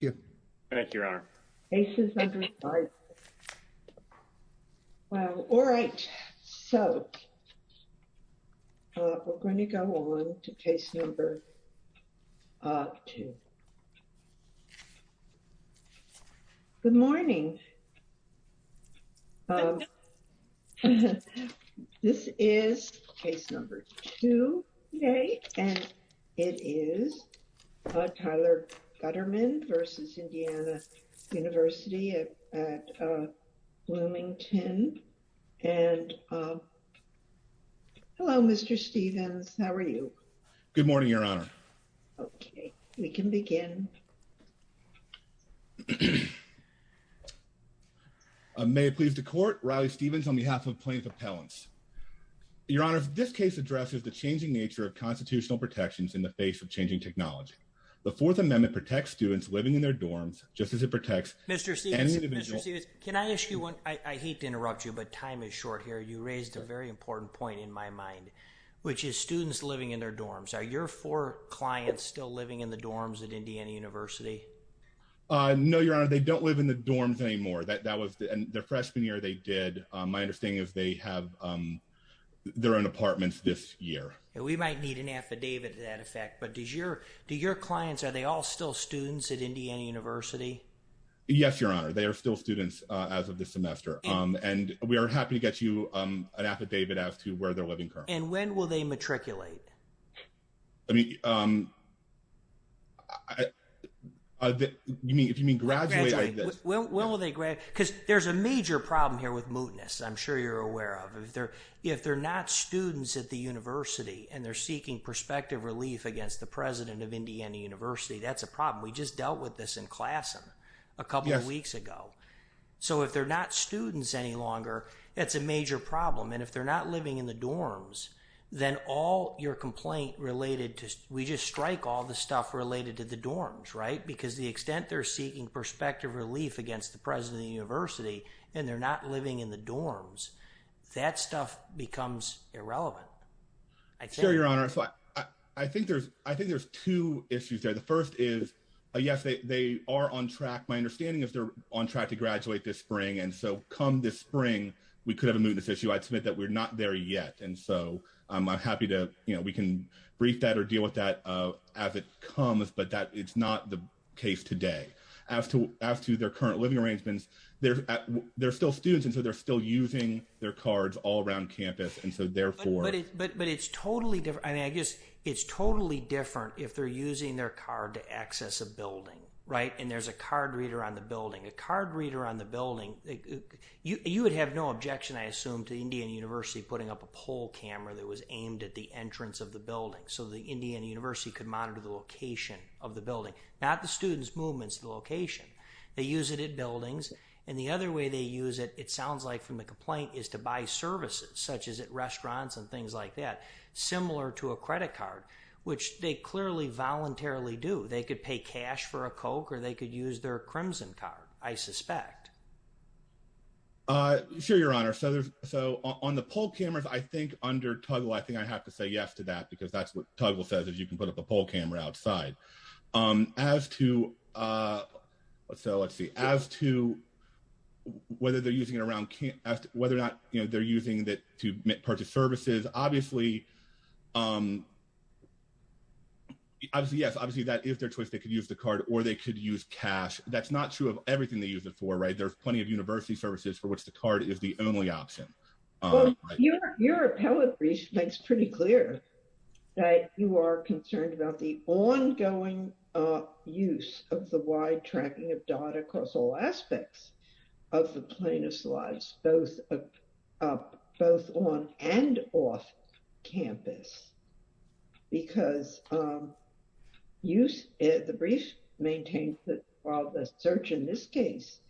You're on. Well, all right, so we're going to go on to case number two. Good morning. This is case number two. Okay. And it is Tyler Gutterman v. Indiana University at Bloomington. Hello, Mr. Stephens. How are you? Good morning, Your Honor. Okay, we can begin. May it please the court. Riley Stephens on behalf of plaintiff appellants. Your Honor, this case addresses the changing nature of constitutional protections in the face of changing technology. The Fourth Amendment protects students living in their dorms just as it protects Mr. Stephens. Can I ask you one? I hate to interrupt you, but time is short here. You raised a very important point in my mind, which is students living in their dorms. Are your four clients still living in the dorms at Indiana University? No, Your Honor. They don't live in the dorms anymore. That was the freshman year they did. My understanding is they have their own apartments this year. And we might need an affidavit to that effect. But do your clients, are they all still students at Indiana University? Yes, Your Honor. They are still students as of this semester. And we are happy to get you an affidavit as to where they're living currently. And when will they matriculate? I mean, um, if you mean graduate like this? When will they graduate? Because there's a major problem here with mootness, I'm sure you're aware of. If they're not students at the university and they're seeking prospective relief against the president of Indiana University, that's a problem. We just dealt with this in class a couple of weeks ago. So if they're not students any longer, that's a major problem. And if they're not living in the dorms, then all your complaint related to, we just strike all the stuff related to the dorms, right? Because the extent they're seeking prospective relief against the president of the university, and they're not living in the dorms, that stuff becomes irrelevant. Sure, Your Honor. I think there's, I think there's two issues there. The first is, yes, they are on track. My understanding is they're on track to graduate this spring. And so come this spring, we could have a mootness issue. I'd submit that we're not there yet. And so I'm happy to, you know, we can brief that or deal with that as it comes, but that it's not the case today. As to their current living arrangements, they're still students. And so they're still using their cards all around campus. And so therefore... They use it at buildings. And the other way they use it, it sounds like from the complaint, is to buy services, such as at restaurants and things like that, similar to a credit card, which they clearly voluntarily do. They could pay cash for a Coke, or they could use their Crimson card, I suspect. Sure, Your Honor. So on the poll cameras, I think under Tuggle, I think I have to say yes to that, because that's what Tuggle says, is you can put up a poll camera outside. As to, so let's see, as to whether they're using it around campus, whether or not they're using it to purchase services, obviously, obviously, yes, obviously, that is their choice. They could use the card or they could use cash. That's not true of everything they use it for, right? There's plenty of university services for which the card is the only option. Your appellate brief makes pretty clear that you are concerned about the ongoing use of the wide tracking of data across all aspects of the Plano's lives, both on and off campus. Because the brief maintains that while the search in this case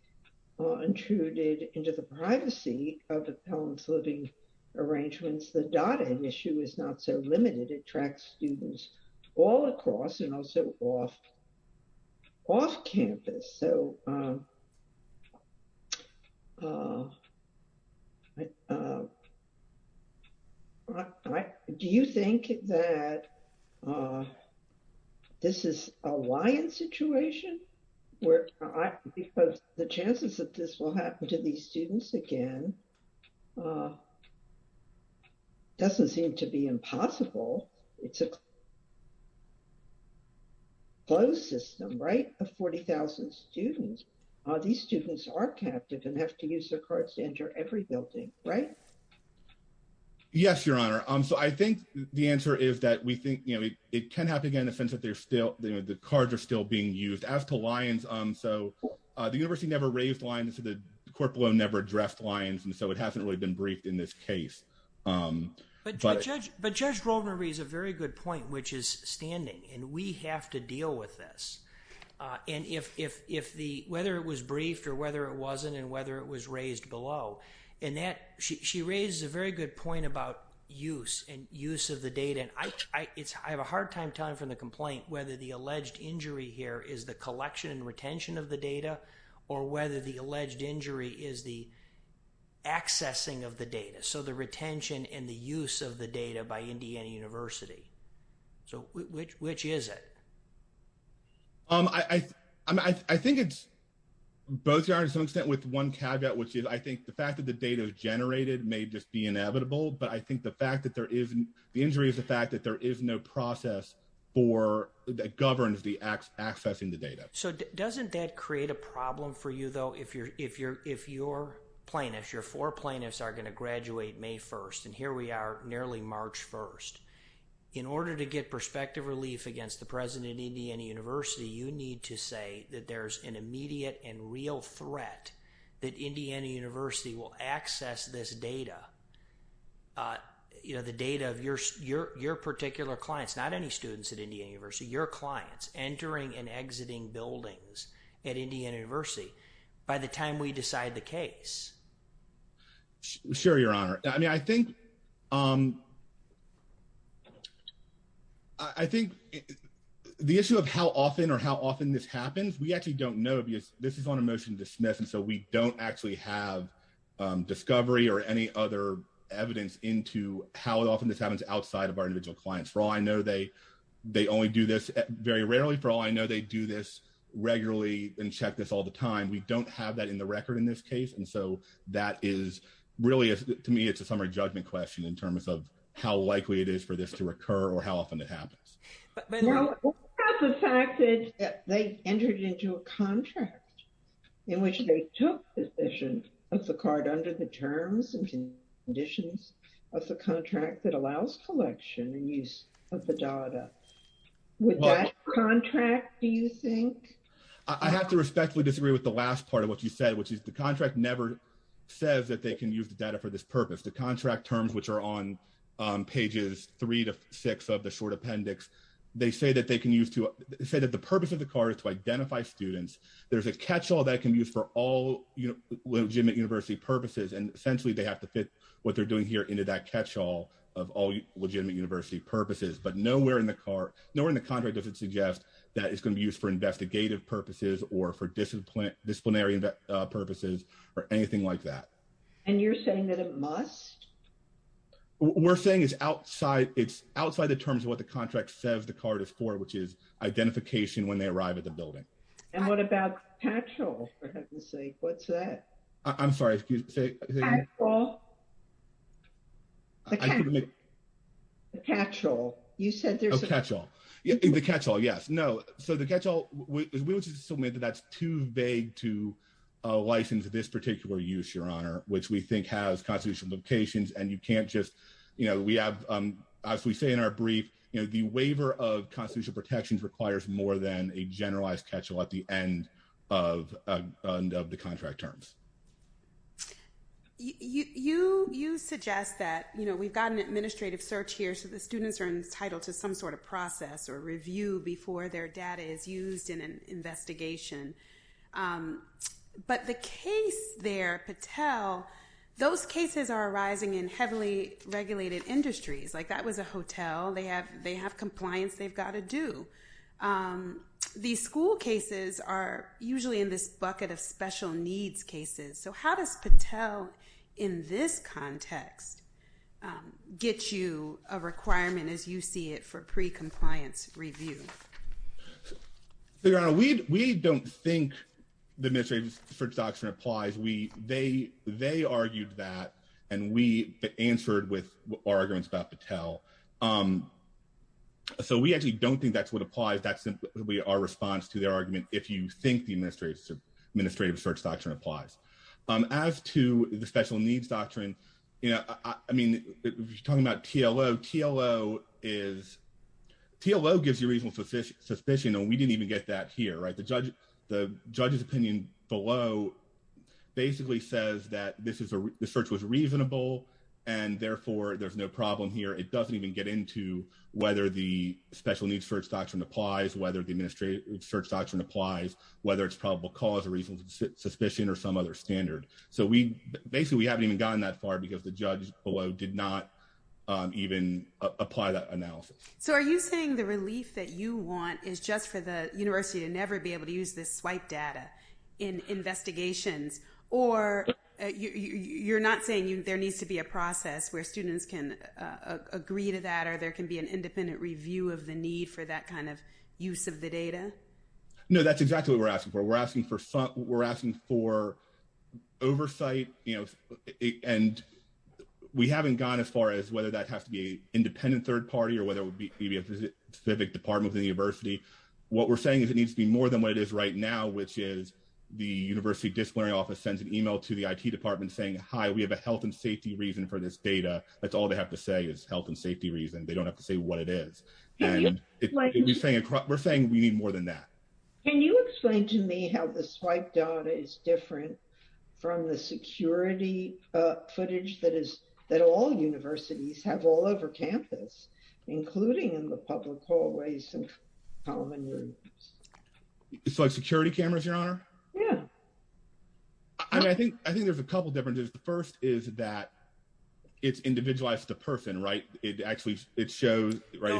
intruded into the privacy of the Plano's living arrangements, the data issue is not so limited. It tracks students all across and also off campus. So do you think that this is a lion situation? Because the chances that this will happen to these students again doesn't seem to be impossible. It's a closed system, right? Of 40,000 students, these students are captive and have to use their cards to enter every building, right? Yes, Your Honor. So I think the answer is that we think, you know, it can happen again in the sense that they're still, you know, the cards are still being used. As to lions, so the university never raised lions, the corporal never addressed lions, and so it hasn't really been briefed in this case. But Judge Rovner raised a very good point, which is standing, and we have to deal with this. And if the, whether it was briefed or whether it wasn't, and whether it was raised below, and that she raises a very good point about use and use of the data. Again, I have a hard time telling from the complaint, whether the alleged injury here is the collection and retention of the data or whether the alleged injury is the accessing of the data. So the retention and the use of the data by Indiana University. So which is it? I think it's both, Your Honor, to some extent with one caveat, which is I think the fact that the data is generated may just be inevitable, but I think the fact that there is, the injury is the fact that there is no process for, that governs the accessing the data. So doesn't that create a problem for you, though, if your plaintiffs, your four plaintiffs are going to graduate May 1st, and here we are nearly March 1st. In order to get perspective relief against the President of Indiana University, you need to say that there's an immediate and real threat that Indiana University will access this data. You know, the data of your particular clients, not any students at Indiana University, your clients entering and exiting buildings at Indiana University by the time we decide the case. Sure, Your Honor. I mean, I think, I think the issue of how often or how often this happens, we actually don't know because this is on a motion to dismiss, and so we don't actually have discovery or any other evidence into how often this happens outside of our individual clients. For all I know, they only do this very rarely. For all I know, they do this regularly and check this all the time. We don't have that in the record in this case, and so that is really, to me, it's a summary judgment question in terms of how likely it is for this to recur or how often it happens. What about the fact that they entered into a contract in which they took possession of the card under the terms and conditions of the contract that allows collection and use of the data? Would that contract, do you think? I have to respectfully disagree with the last part of what you said, which is the contract never says that they can use the data for this purpose. The contract terms, which are on pages three to six of the short appendix, they say that they can use to say that the purpose of the card is to identify students. There's a catch-all that can be used for all legitimate university purposes, and essentially they have to fit what they're doing here into that catch-all of all legitimate university purposes, but nowhere in the contract does it suggest that it's going to be used for investigative purposes or for disciplinary purposes or anything like that. And you're saying that it must? We're saying it's outside the terms of what the contract says the card is for, which is identification when they arrive at the building. And what about catch-all, for heaven's sake? What's that? I'm sorry, excuse me. Catch-all? The catch-all. You said there's a catch-all. The catch-all, yes. No, so the catch-all, we would just assume that that's too vague to license this particular use, Your Honor, which we think has constitutional implications. And you can't just, you know, we have, as we say in our brief, you know, the waiver of constitutional protections requires more than a generalized catch-all at the end of the contract terms. You suggest that, you know, we've got an administrative search here, so the students are entitled to some sort of process or review before their data is used in an investigation. But the case there, Patel, those cases are arising in heavily regulated industries. Like, that was a hotel. They have compliance they've got to do. These school cases are usually in this bucket of special needs cases. So how does Patel, in this context, get you a requirement as you see it for pre-compliance review? Your Honor, we don't think the administrative search doctrine applies. They argued that, and we answered with our arguments about Patel. So we actually don't think that's what applies. That's simply our response to their argument, if you think the administrative search doctrine applies. As to the special needs doctrine, you know, I mean, if you're talking about TLO, TLO gives you reasonable suspicion, and we didn't even get that here, right? The judge's opinion below basically says that the search was reasonable, and therefore there's no problem here. It doesn't even get into whether the special needs search doctrine applies, whether the administrative search doctrine applies, whether it's probable cause or reasonable suspicion or some other standard. So basically, we haven't even gotten that far because the judge below did not even apply that analysis. So are you saying the relief that you want is just for the university to never be able to use this swipe data in investigations? Or you're not saying there needs to be a process where students can agree to that, or there can be an independent review of the need for that kind of use of the data? No, that's exactly what we're asking for. We're asking for oversight, and we haven't gone as far as whether that has to be an independent third party or whether it would be a specific department of the university. What we're saying is it needs to be more than what it is right now, which is the university disciplinary office sends an email to the IT department saying, hi, we have a health and safety reason for this data. That's all they have to say is health and safety reason. They don't have to say what it is. We're saying we need more than that. Can you explain to me how the swipe data is different from the security footage that all universities have all over campus, including in the public hallways and common rooms? It's like security cameras, your honor? Yeah. I think there's a couple differences. The first is that it's individualized to person, right? It actually shows, right?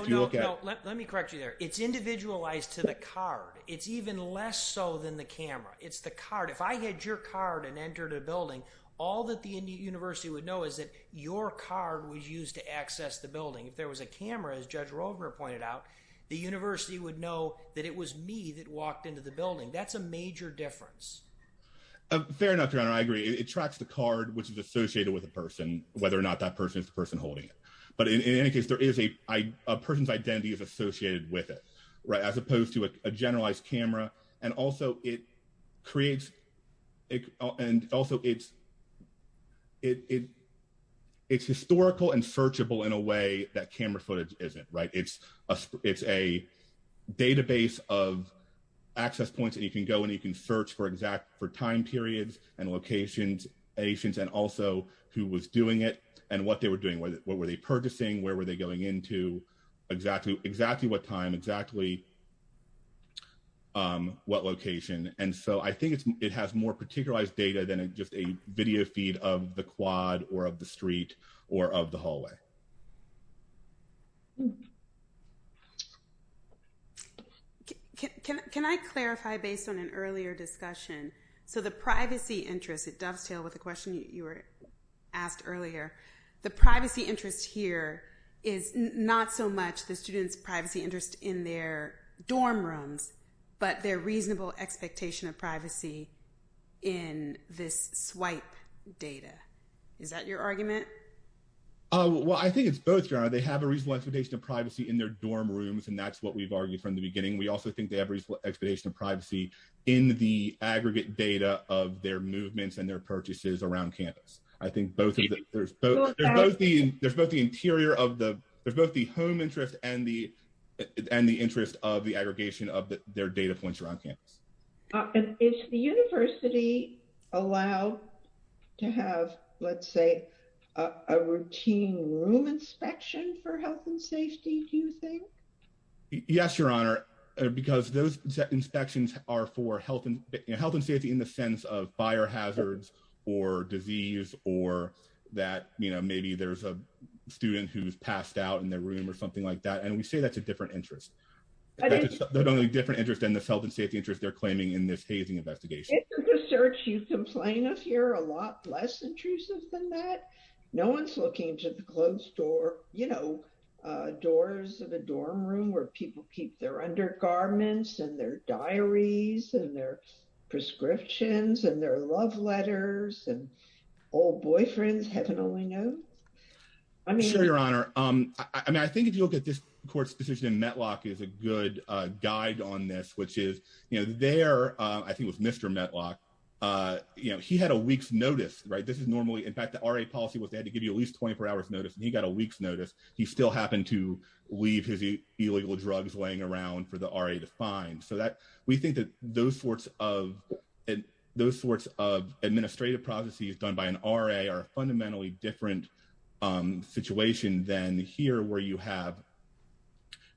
Let me correct you there. It's individualized to the card. It's even less so than the camera. It's the card. If I had your card and entered a building, all that the university would know is that your card was used to access the building. If there was a camera, as Judge Roger pointed out, the university would know that it was me that walked into the building. That's a major difference. Fair enough, your honor. I agree. It tracks the card, which is associated with a person, whether or not that person is the person holding it. But in any case, a person's identity is associated with it, right, as opposed to a generalized camera. And also, it's historical and searchable in a way that camera footage isn't, right? It's a database of access points that you can go and you can search for exact time periods and locations and also who was doing it and what they were doing. What were they purchasing, where were they going into, exactly what time, exactly what location. And so I think it has more particularized data than just a video feed of the quad or of the street or of the hallway. Can I clarify based on an earlier discussion? So the privacy interest, it dovetails with the question you were asked earlier. The privacy interest here is not so much the student's privacy interest in their dorm rooms, but their reasonable expectation of privacy in this swipe data. Is that your argument? Well, I think it's both, your honor. They have a reasonable expectation of privacy in their dorm rooms, and that's what we've argued from the beginning. We also think they have reasonable expectation of privacy in the aggregate data of their movements and their purchases around campus. I think there's both the interior of the, there's both the home interest and the interest of the aggregation of their data points around campus. Is the university allowed to have, let's say, a routine room inspection for health and safety, do you think? Yes, your honor, because those inspections are for health and safety in the sense of fire hazards or disease or that, you know, maybe there's a student who's passed out in their room or something like that. And we say that's a different interest. That's a totally different interest than the health and safety interest they're claiming in this hazing investigation. Isn't the research you complain of here a lot less intrusive than that? No one's looking into the closed door, you know, doors of a dorm room where people keep their undergarments and their diaries and their prescriptions and their love letters and old boyfriends, heaven only knows. I'm sure, your honor. I mean, I think if you look at this court's decision in Metlock is a good guide on this, which is, you know, there, I think it was Mr. Metlock, you know, he had a week's notice, right? This is normally, in fact, the RA policy was they had to give you at least 24 hours notice and he got a week's notice. He still happened to leave his illegal drugs laying around for the RA to find. So that we think that those sorts of administrative processes done by an RA are fundamentally different situation than here where you have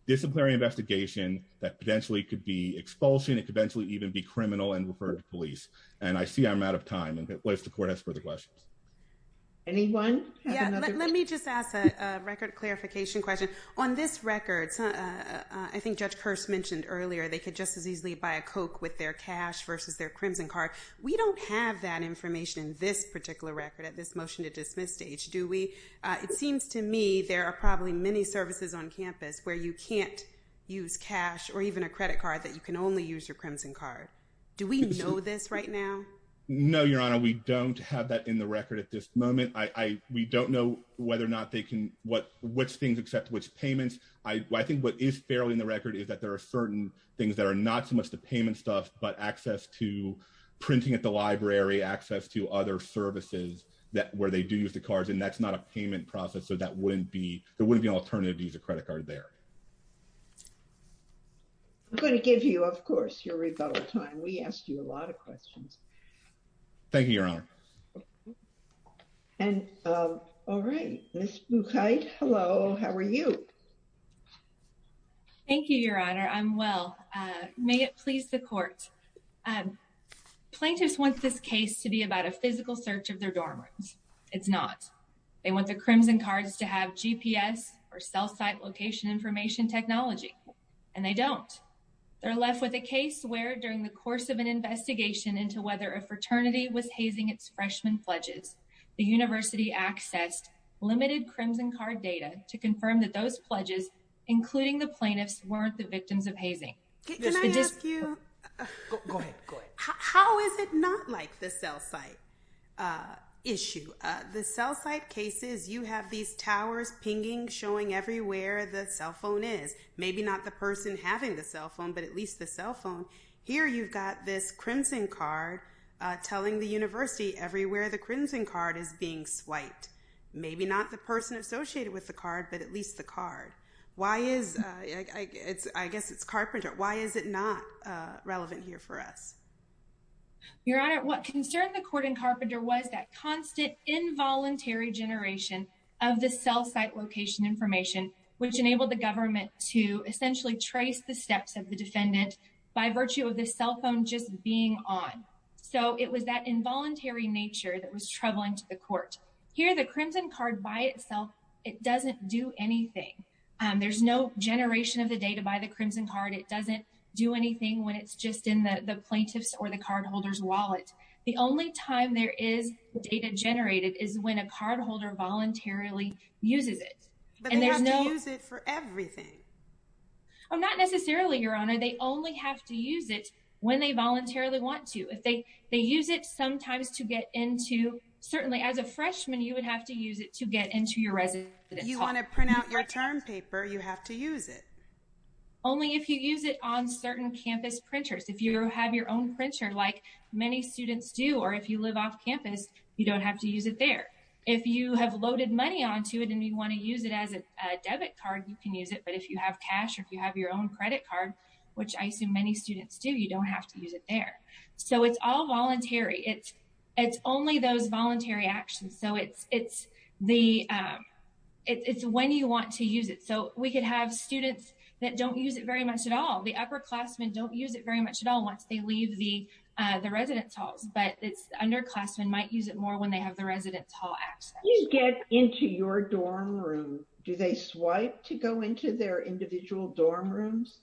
disciplinary investigation that potentially could be expulsion. It could eventually even be criminal and referred to police. And I see I'm out of time. Unless the court has further questions. Anyone? Let me just ask a record clarification question on this record. I think Judge Kirst mentioned earlier, they could just as easily buy a Coke with their cash versus their crimson card. We don't have that information in this particular record at this motion to dismiss stage. Do we? It seems to me there are probably many services on campus where you can't use cash or even a credit card that you can only use your crimson card. Do we know this right now? No, your honor. We don't have that in the record at this moment. We don't know whether or not they can what which things except which payments. I think what is fairly in the record is that there are certain things that are not so much the payment stuff but access to printing at the library access to other services that where they do use the cards and that's not a payment process. So that wouldn't be there wouldn't be an alternative to use a credit card there. I'm going to give you of course your rebuttal time we asked you a lot of questions. Thank you, your honor. And. All right. Okay. Hello, how are you. Thank you, your honor I'm well. May it please the court plaintiffs want this case to be about a physical search of their dorm rooms. It's not. They want the crimson cards to have GPS or cell site location information technology, and they don't. They're left with a case where during the course of an investigation into whether a fraternity was hazing its freshman pledges, the university accessed limited crimson card data to confirm that those pledges, including the plaintiffs weren't the victims of hazing. Can I ask you. How is it not like the cell site issue, the cell site cases you have these towers pinging showing everywhere the cell phone is maybe not the person having the cell phone but at least the cell phone. Here you've got this crimson card, telling the university everywhere the crimson card is being swiped. Maybe not the person associated with the card but at least the card. Why is it's I guess it's carpenter, why is it not relevant here for us. Your Honor, what concerned the court and carpenter was that constant involuntary generation of the cell site location information, which enabled the government to essentially trace the steps of the defendant, by virtue of the cell phone just being on. So it was that involuntary nature that was troubling to the court here the crimson card by itself. It doesn't do anything. There's no generation of the data by the crimson card it doesn't do anything when it's just in the plaintiffs or the cardholders wallet. The only time there is the data generated is when a cardholder voluntarily uses it, and there's no use it for everything. I'm not necessarily Your Honor, they only have to use it when they voluntarily want to if they, they use it sometimes to get into, certainly as a freshman you would have to use it to get into your resident, you want to print out your term paper you have to use it. Only if you use it on certain campus printers if you have your own printer like many students do or if you live off campus, you don't have to use it there. If you have loaded money on to it and you want to use it as a debit card you can use it but if you have cash if you have your own credit card, which I assume many students do you don't have to use it there. So it's all voluntary it's, it's only those voluntary actions so it's, it's the. It's when you want to use it so we could have students that don't use it very much at all the upperclassmen don't use it very much at all once they leave the, the residence halls but it's underclassmen might use it more when they have the residence hall access into your dorm room, do they swipe to go into their individual dorm rooms.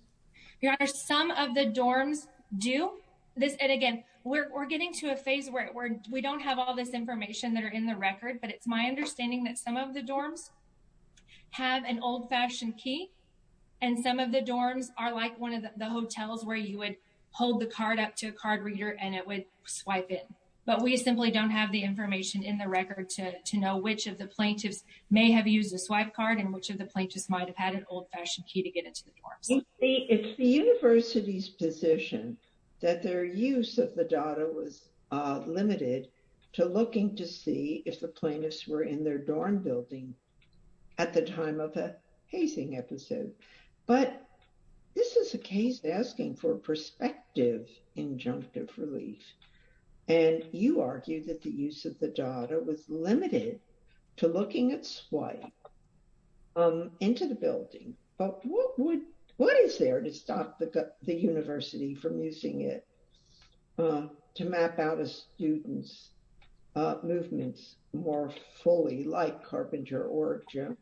Yeah, some of the dorms do this and again, we're getting to a phase where we don't have all this information that are in the record but it's my understanding that some of the dorms have an old fashioned key. And some of the dorms are like one of the hotels where you would hold the card up to a card reader and it would swipe it, but we simply don't have the information in the record to know which of the plaintiffs may have used a swipe card and which of the plaintiffs might have had an old fashioned key to get into the dorms. It's the university's position that their use of the data was limited to looking to see if the plaintiffs were in their dorm building. At the time of a hazing episode. But this is a case asking for perspective, injunctive relief, and you argue that the use of the data was limited to looking at swipe into the building. But what would, what is there to stop the university from using it to map out a student's movements, more fully like Carpenter or Jim.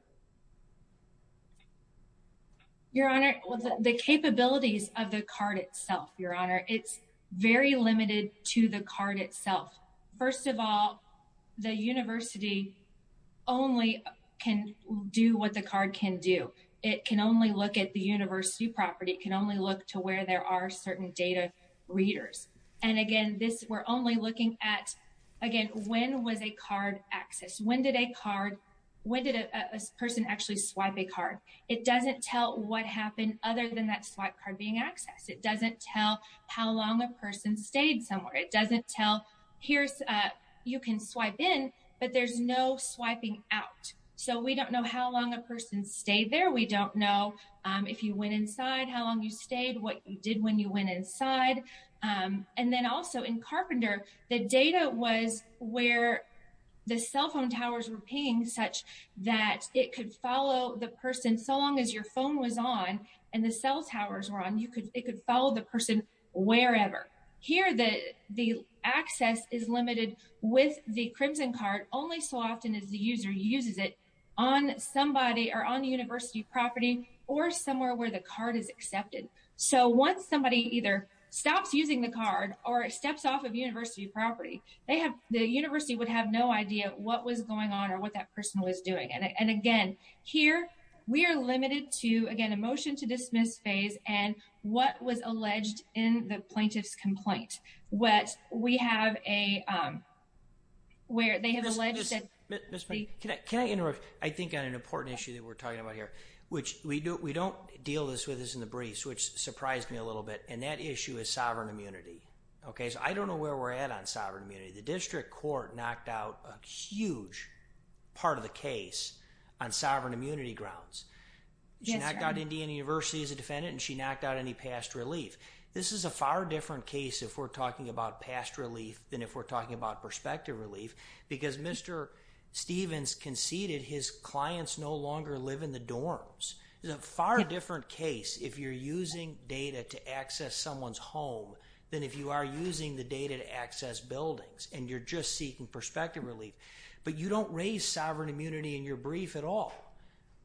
Your Honor, the capabilities of the card itself, Your Honor, it's very limited to the card itself. First of all, the university only can do what the card can do. It can only look at the university property can only look to where there are certain data readers. And again, this we're only looking at, again, when was a card access when did a card. When did a person actually swipe a card, it doesn't tell what happened, other than that swipe card being accessed it doesn't tell how long a person stayed somewhere it doesn't tell. You can swipe in, but there's no swiping out. So we don't know how long a person stayed there we don't know if you went inside how long you stayed what you did when you went inside. And then also in Carpenter, the data was where the cell phone towers were paying such that it could follow the person so long as your phone was on, and the cell towers were on you could, it could follow the person, wherever. Here, the, the access is limited with the crimson card only so often as the user uses it on somebody or on the university property or somewhere where the card is accepted. So once somebody either stops using the card, or it steps off of university property, they have the university would have no idea what was going on or what that person was doing and again here. We are limited to again emotion to dismiss phase, and what was alleged in the plaintiff's complaint, what we have a where they have alleged that can I interrupt, I think on an important issue that we're talking about here, which we do we don't deal this with in the briefs which surprised me a little bit, and that issue is sovereign immunity. Okay, so I don't know where we're at on sovereign immunity the district court knocked out a huge part of the case on sovereign immunity grounds. Yeah, I got Indiana University as a defendant and she knocked out any past relief. This is a far different case if we're talking about past relief than if we're talking about perspective relief, because Mr. Stevens conceded his clients no longer live in the dorms, is a far different case if you're using data to access someone's home than if you are using the data to access buildings, and you're just seeking perspective relief, but you don't raise sovereign immunity in your brief at all.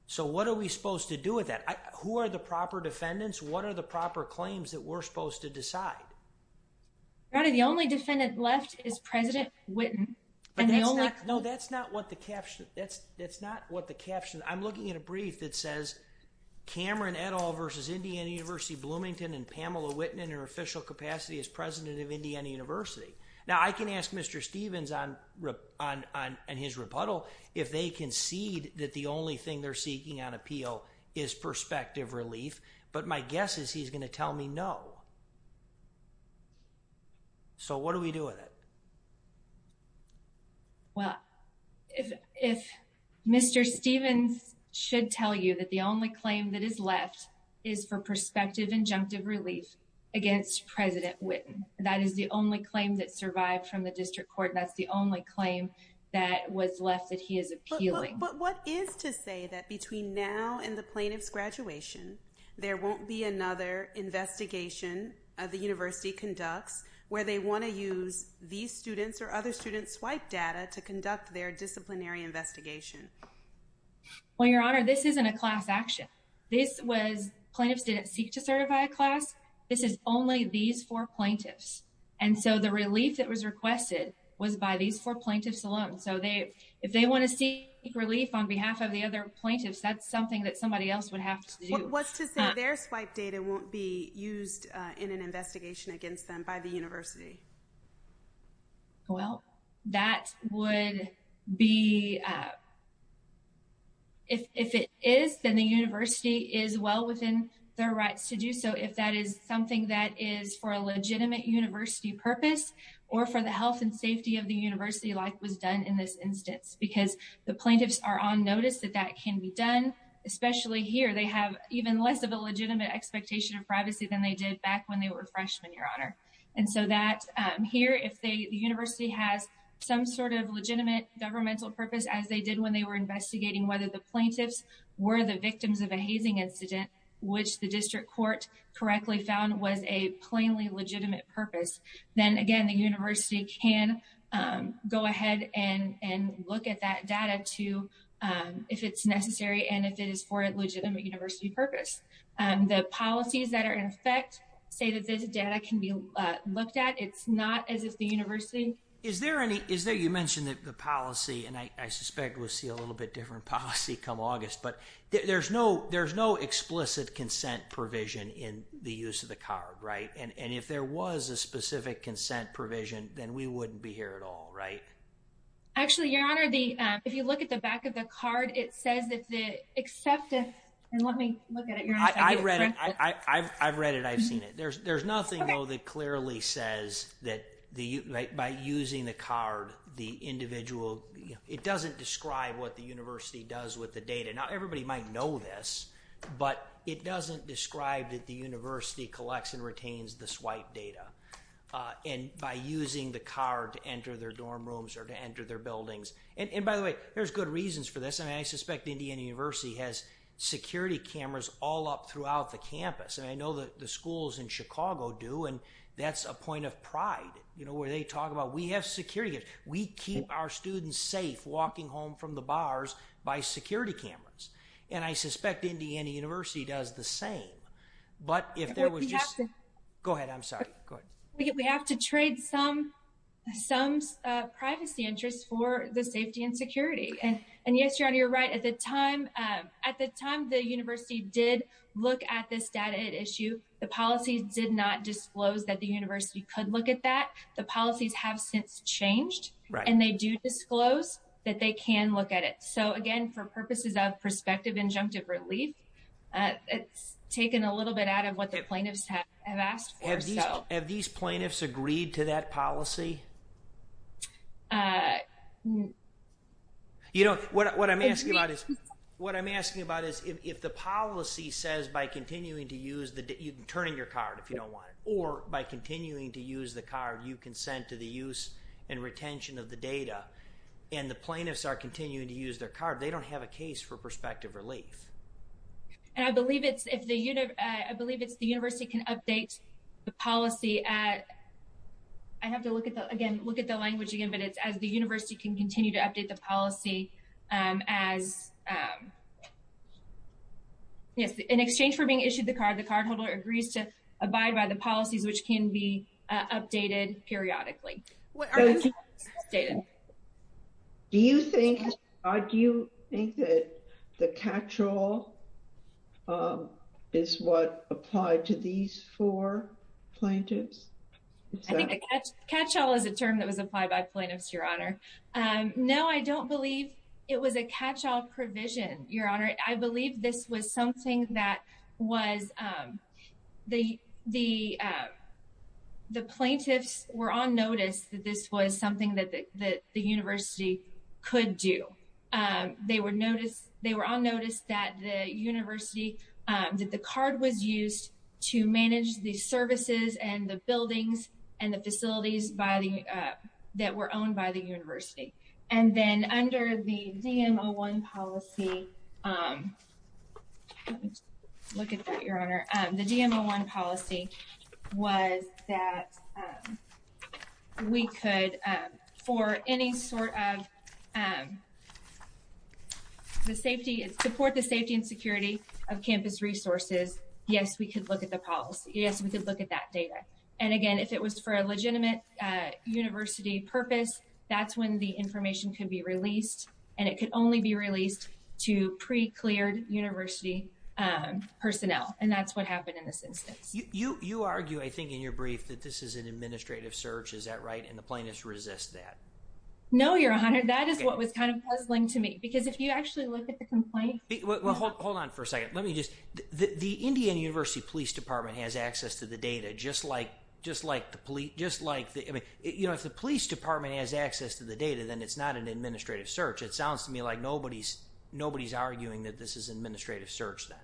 So what are we supposed to do with that, who are the proper defendants, what are the proper claims that we're supposed to decide. The only defendant left is President Witten. No, that's not what the caption, that's, that's not what the caption I'm looking at a brief that says Cameron et al versus Indiana University Bloomington and Pamela Witten in her official capacity as president of Indiana University. Now I can ask Mr. Stevens on his rebuttal if they concede that the only thing they're seeking on appeal is perspective relief, but my guess is he's going to tell me no. So what do we do with it. Well, if, if Mr. Stevens should tell you that the only claim that is left is for perspective injunctive relief against President Witten, that is the only claim that survived from the district court that's the only claim that was left that he is appealing. But what is to say that between now and the plaintiff's graduation, there won't be another investigation of the university conducts where they want to use these students or other students swipe data to conduct their disciplinary investigation. Well, Your Honor, this isn't a class action. This was plaintiffs didn't seek to certify a class. This is only these four plaintiffs. And so the relief that was requested was by these four plaintiffs alone so they if they want to see relief on behalf of the other plaintiffs that's something that somebody else would have to do what's to say their swipe data won't be used in an investigation against them by the university. Well, that would be if it is then the university is well within their rights to do so if that is something that is for a legitimate university purpose or for the health and safety of the university like was done in this instance because the plaintiffs are on notice that that can be done, especially here they have even less of a legitimate expectation of privacy than they did back when they were freshmen, Your Honor. And so that here if they the university has some sort of legitimate governmental purpose as they did when they were investigating whether the plaintiffs were the victims of a hazing incident, which the district court correctly found was a plainly legitimate purpose. Then again, the university can go ahead and and look at that data to if it's necessary and if it is for a legitimate university purpose and the policies that are in effect say that this data can be looked at it's not as if the university is there any is there you mentioned that the policy and I suspect we'll see a little bit different policy come August but there's no there's no explicit consent provision in the use of the card. Right. And if there was a specific consent provision, then we wouldn't be here at all. Right. Actually, Your Honor, the if you look at the back of the card, it says that the accepted and let me look at it. I've read it. I've read it. I've seen it. There's there's nothing though that clearly says that the by using the card, the individual it doesn't describe what the university does with the data. Now, everybody might know this, but it doesn't describe that the university collects and retains the swipe data and by using the card to enter their dorm rooms or to enter their buildings. And by the way, there's good reasons for this. And I suspect Indiana University has security cameras all up throughout the campus. And I know that the schools in Chicago do. And that's a point of pride, you know, where they talk about we have security. We keep our students safe walking home from the bars by security cameras. And I suspect Indiana University does the same. But if there was just go ahead. I'm sorry. We have to trade some some privacy interests for the safety and security. And and yes, you're on your right at the time. At the time, the university did look at this data issue. The policy did not disclose that the university could look at that. The policies have since changed and they do disclose that they can look at it. So again, for purposes of prospective injunctive relief. It's taken a little bit out of what the plaintiffs have asked for. Have these plaintiffs agreed to that policy? You know what I'm asking about is what I'm asking about is if the policy says by continuing to use the you can turn in your card if you don't want or by continuing to use the card you can send to the use and retention of the data and the plaintiffs are continuing to use their card. They don't have a case for prospective relief. And I believe it's if the you know, I believe it's the university can update the policy at I have to look at the again look at the language again, but it's as the university can continue to update the policy as Yes, in exchange for being issued the card the cardholder agrees to abide by the policies which can be updated periodically. Do you think I do you think that the catch all is what applied to these four plaintiffs catch all is a term that was applied by plaintiffs your honor. No, I don't believe it was a catch all provision, your honor. I believe this was something that was the the The plaintiffs were on notice that this was something that the university could do they would notice they were on notice that the university that the card was used to manage the services and the buildings and the facilities by the that were owned by the university. And then under the dmo one policy. Look at that your honor the dmo one policy was that We could for any sort of The safety and support the safety and security of campus resources. Yes, we could look at the policy. Yes, we could look at that data. And again, if it was for a legitimate University purpose. That's when the information can be released and it could only be released to pre cleared university Personnel and that's what happened in this instance you you argue. I think in your brief that this is an administrative search. Is that right, and the plaintiffs resist that No, your honor. That is what was kind of puzzling to me because if you actually look at the complaint. Hold on for a second. Let me just the Indian University Police Department has access to the data, just like just like the police, just like the you know if the police department has access to the data, then it's not an administrative search. It sounds to me like nobody's nobody's arguing that this is administrative search that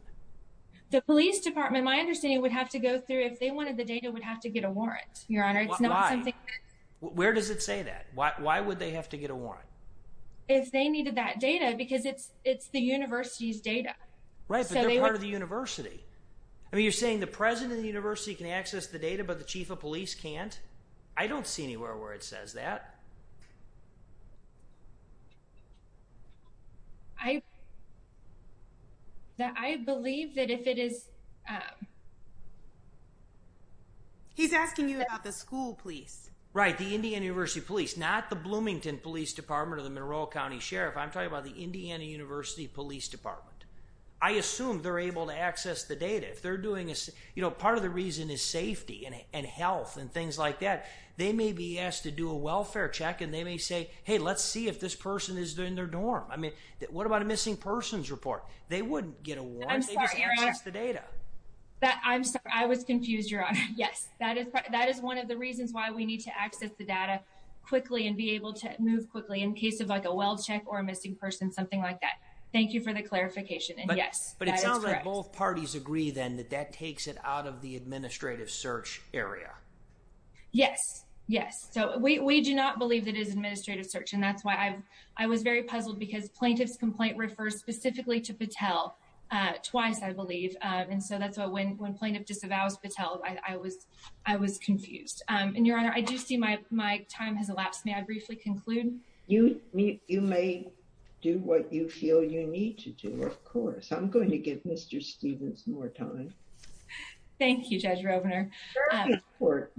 The police department. My understanding would have to go through if they wanted the data would have to get a warrant, your honor. It's not something Where does it say that. Why, why would they have to get a warrant. If they needed that data because it's it's the university's data. Right. So they were the university. I mean, you're saying the president, the university can access the data, but the chief of police can't. I don't see anywhere where it says that I That I believe that if it is He's asking you about the school, please. Right. The Indian University Police, not the Bloomington Police Department of the Monroe County Sheriff. I'm talking about the Indiana University Police Department. I assume they're able to access the data if they're doing this, you know, part of the reason is safety and health and things like that. They may be asked to do a welfare check and they may say, hey, let's see if this person is doing their dorm. I mean, what about a missing persons report, they wouldn't get a warrant. That I'm sorry, I was confused, your honor. Yes, that is that is one of the reasons why we need to access the data quickly and be able to move quickly in case of like a well check or a missing person, something like that. Thank you for the clarification. And yes, but it sounds like both parties agree then that that takes it out of the administrative search area. Yes, yes. So we do not believe that is administrative search. And that's why I, I was very puzzled because plaintiff's complaint refers specifically to Patel twice, I believe. And so that's what when when plaintiff disavows Patel, I was, I was confused. And your honor, I do see my, my time has elapsed. May I briefly conclude You may do what you feel you need to do. Of course, I'm going to give Mr. Stevens more time. Thank you, Judge Robner. Court.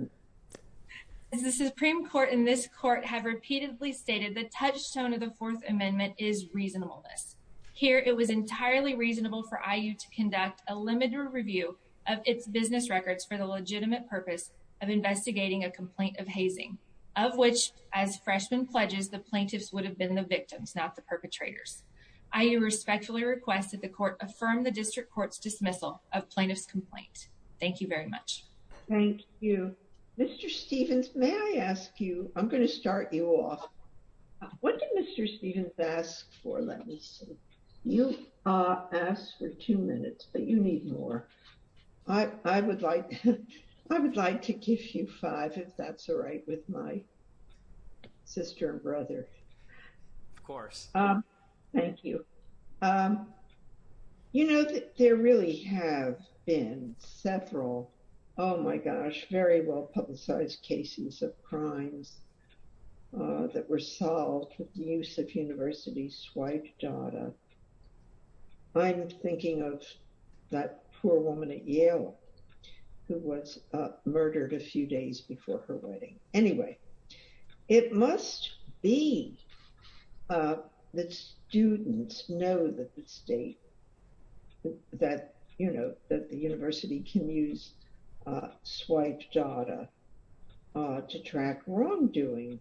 The Supreme Court in this court have repeatedly stated the touchstone of the Fourth Amendment is reasonableness. Here it was entirely reasonable for IU to conduct a limited review of its business records for the legitimate purpose of investigating a complaint of hazing, of which as freshman pledges the plaintiffs would have been the victims, not the perpetrators. I respectfully requested the court affirm the district court's dismissal of plaintiff's complaint. Thank you very much. Thank you, Mr. Stevens, may I ask you, I'm going to start you off. What did Mr. Stevens asked for, let me see. You asked for two minutes, but you need more. I would like, I would like to give you five if that's all right with my sister and brother. Of course. Thank you. You know, there really have been several. Oh my gosh, very well publicized cases of crimes that were solved with the use of university swipe data. I'm thinking of that poor woman at Yale, who was murdered a few days before her wedding. Anyway, it must be that students know that the state, that, you know, that the university can use swipe data to track wrongdoing.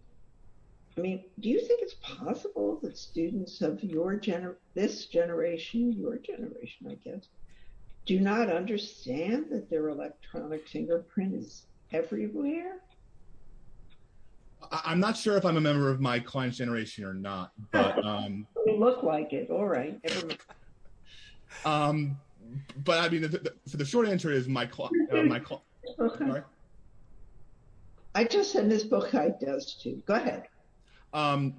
I mean, do you think it's possible that students of this generation, your generation, I guess, do not understand that their electronic fingerprint is everywhere? I'm not sure if I'm a member of my client's generation or not. You look like it. All right. Um, but I mean, the short answer is my client. I just said this book does too. Go ahead. Um,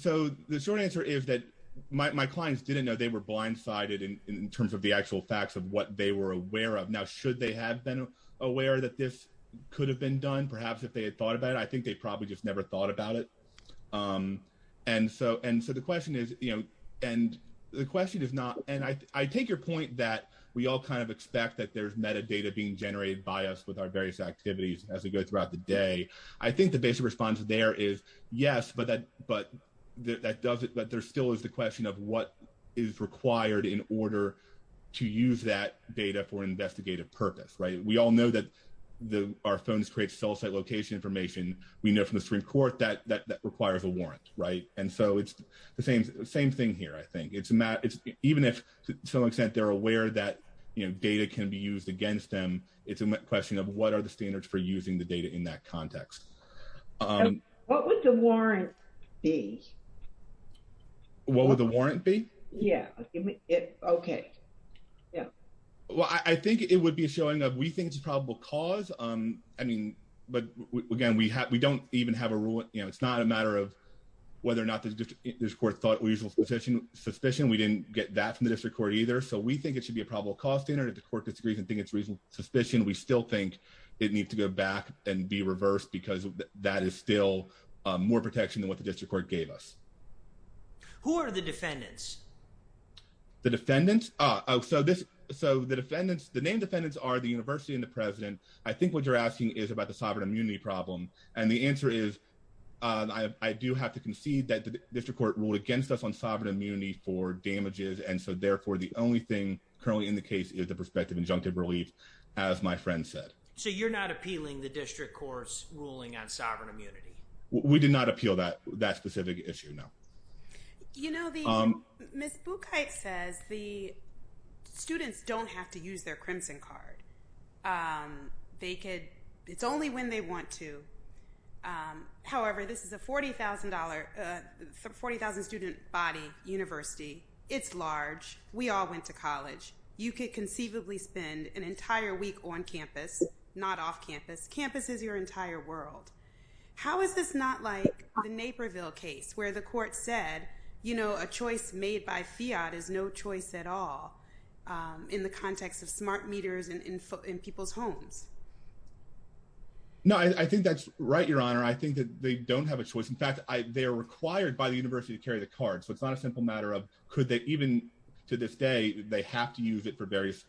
so the short answer is that my clients didn't know they were blindsided in terms of the actual facts of what they were aware of. Now, should they have been aware that this could have been done? Perhaps if they had thought about it, I think they probably just never thought about it. And so, and so the question is, you know, and the question is not, and I take your point that we all kind of expect that there's metadata being generated by us with our various activities as we go throughout the day. I think the basic response there is yes, but that, but that doesn't, but there still is the question of what is required in order to use that data for investigative purpose, right? We all know that the, our phones create cell site location information. We know from the Supreme Court that that requires a warrant. Right. And so it's the same, same thing here. I think it's Matt. It's even if to some extent, they're aware that, you know, data can be used against them. It's a question of what are the standards for using the data in that context? What would the warrant be? What would the warrant be? Yeah. Okay. Yeah. Well, I think it would be a showing of, we think it's a probable cause. I mean, but again, we have, we don't even have a rule, you know, it's not a matter of whether or not there's court thought or usual suspicion, suspicion. We didn't get that from the district court either. So we think it should be a probable cause standard. If the court disagrees and think it's reasonable suspicion, we still think it needs to go back and be reversed because that is still more protection than what the district court gave us. Who are the defendants? The defendants? Oh, so this, so the defendants, the name defendants are the university and the president. I think what you're asking is about the sovereign immunity problem. And the answer is, I do have to concede that the district court ruled against us on sovereign immunity for damages. And so therefore, the only thing currently in the case is the prospective injunctive relief, as my friend said. So you're not appealing the district court's ruling on sovereign immunity? We did not appeal that, that specific issue. No. You know, the, Ms. Buchheit says the students don't have to use their crimson card. They could, it's only when they want to. However, this is a $40,000, 40,000 student body university. It's large. We all went to college. You could conceivably spend an entire week on campus, not off campus. Campus is your entire world. How is this not like the Naperville case where the court said, you know, a choice made by fiat is no choice at all in the context of smart meters and in people's homes? No, I think that's right, Your Honor. I think that they don't have a choice. In fact, they are required by the university to carry the card. So it's not a simple matter of could they even to this day, they have to use it for various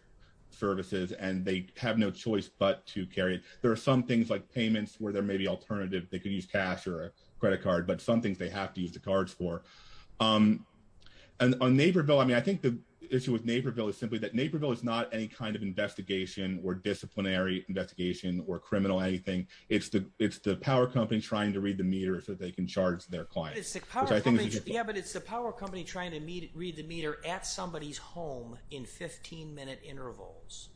services and they have no choice but to carry it. There are some things like payments where there may be alternative. They could use cash or a credit card, but some things they have to use the cards for. And on Naperville, I mean, I think the issue with Naperville is simply that Naperville is not any kind of investigation or disciplinary investigation or criminal anything. It's the power company trying to read the meter so they can charge their clients. Yeah, but it's the power company trying to read the meter at somebody's home in 15 minute intervals.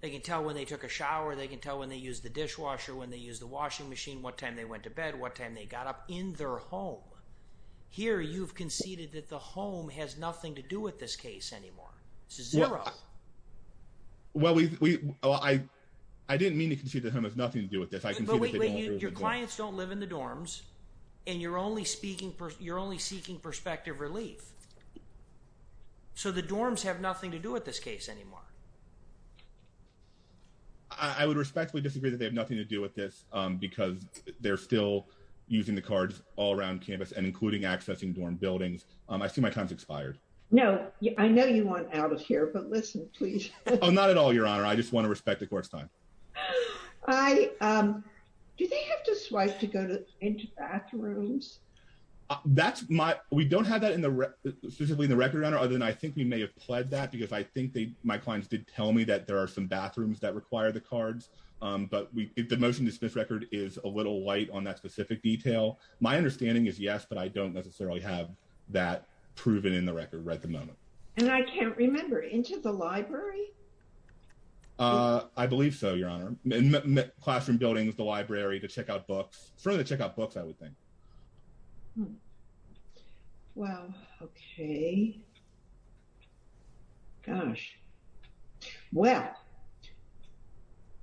They can tell when they took a shower. They can tell when they use the dishwasher, when they use the washing machine, what time they went to bed, what time they got up in their home. Here, you've conceded that the home has nothing to do with this case anymore. This is zero. Well, I didn't mean to concede that home has nothing to do with this. Your clients don't live in the dorms and you're only seeking perspective relief. So the dorms have nothing to do with this case anymore. I would respectfully disagree that they have nothing to do with this because they're still using the cards all around campus and including accessing dorm buildings. I see my time's expired. No, I know you want out of here, but listen, please. Oh, not at all, Your Honor. I just want to respect the court's time. Do they have to swipe to go into bathrooms? We don't have that specifically in the record, Your Honor, other than I think we may have pled that because I think my clients did tell me that there are some bathrooms that require the cards, but the motion to dismiss record is a little light on that specific detail. My understanding is yes, but I don't necessarily have that proven in the record right at the moment. And I can't remember, into the library? I believe so, Your Honor. Classroom buildings, the library, to check out books. Further check out books, I would think. Well, okay. Gosh. Well,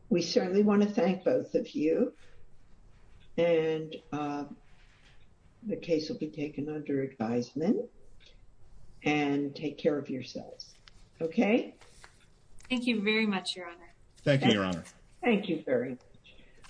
we certainly want to thank both of you. And the case will be taken under advisement and take care of yourselves. Okay. Thank you very much, Your Honor. Thank you, Your Honor. Thank you very much.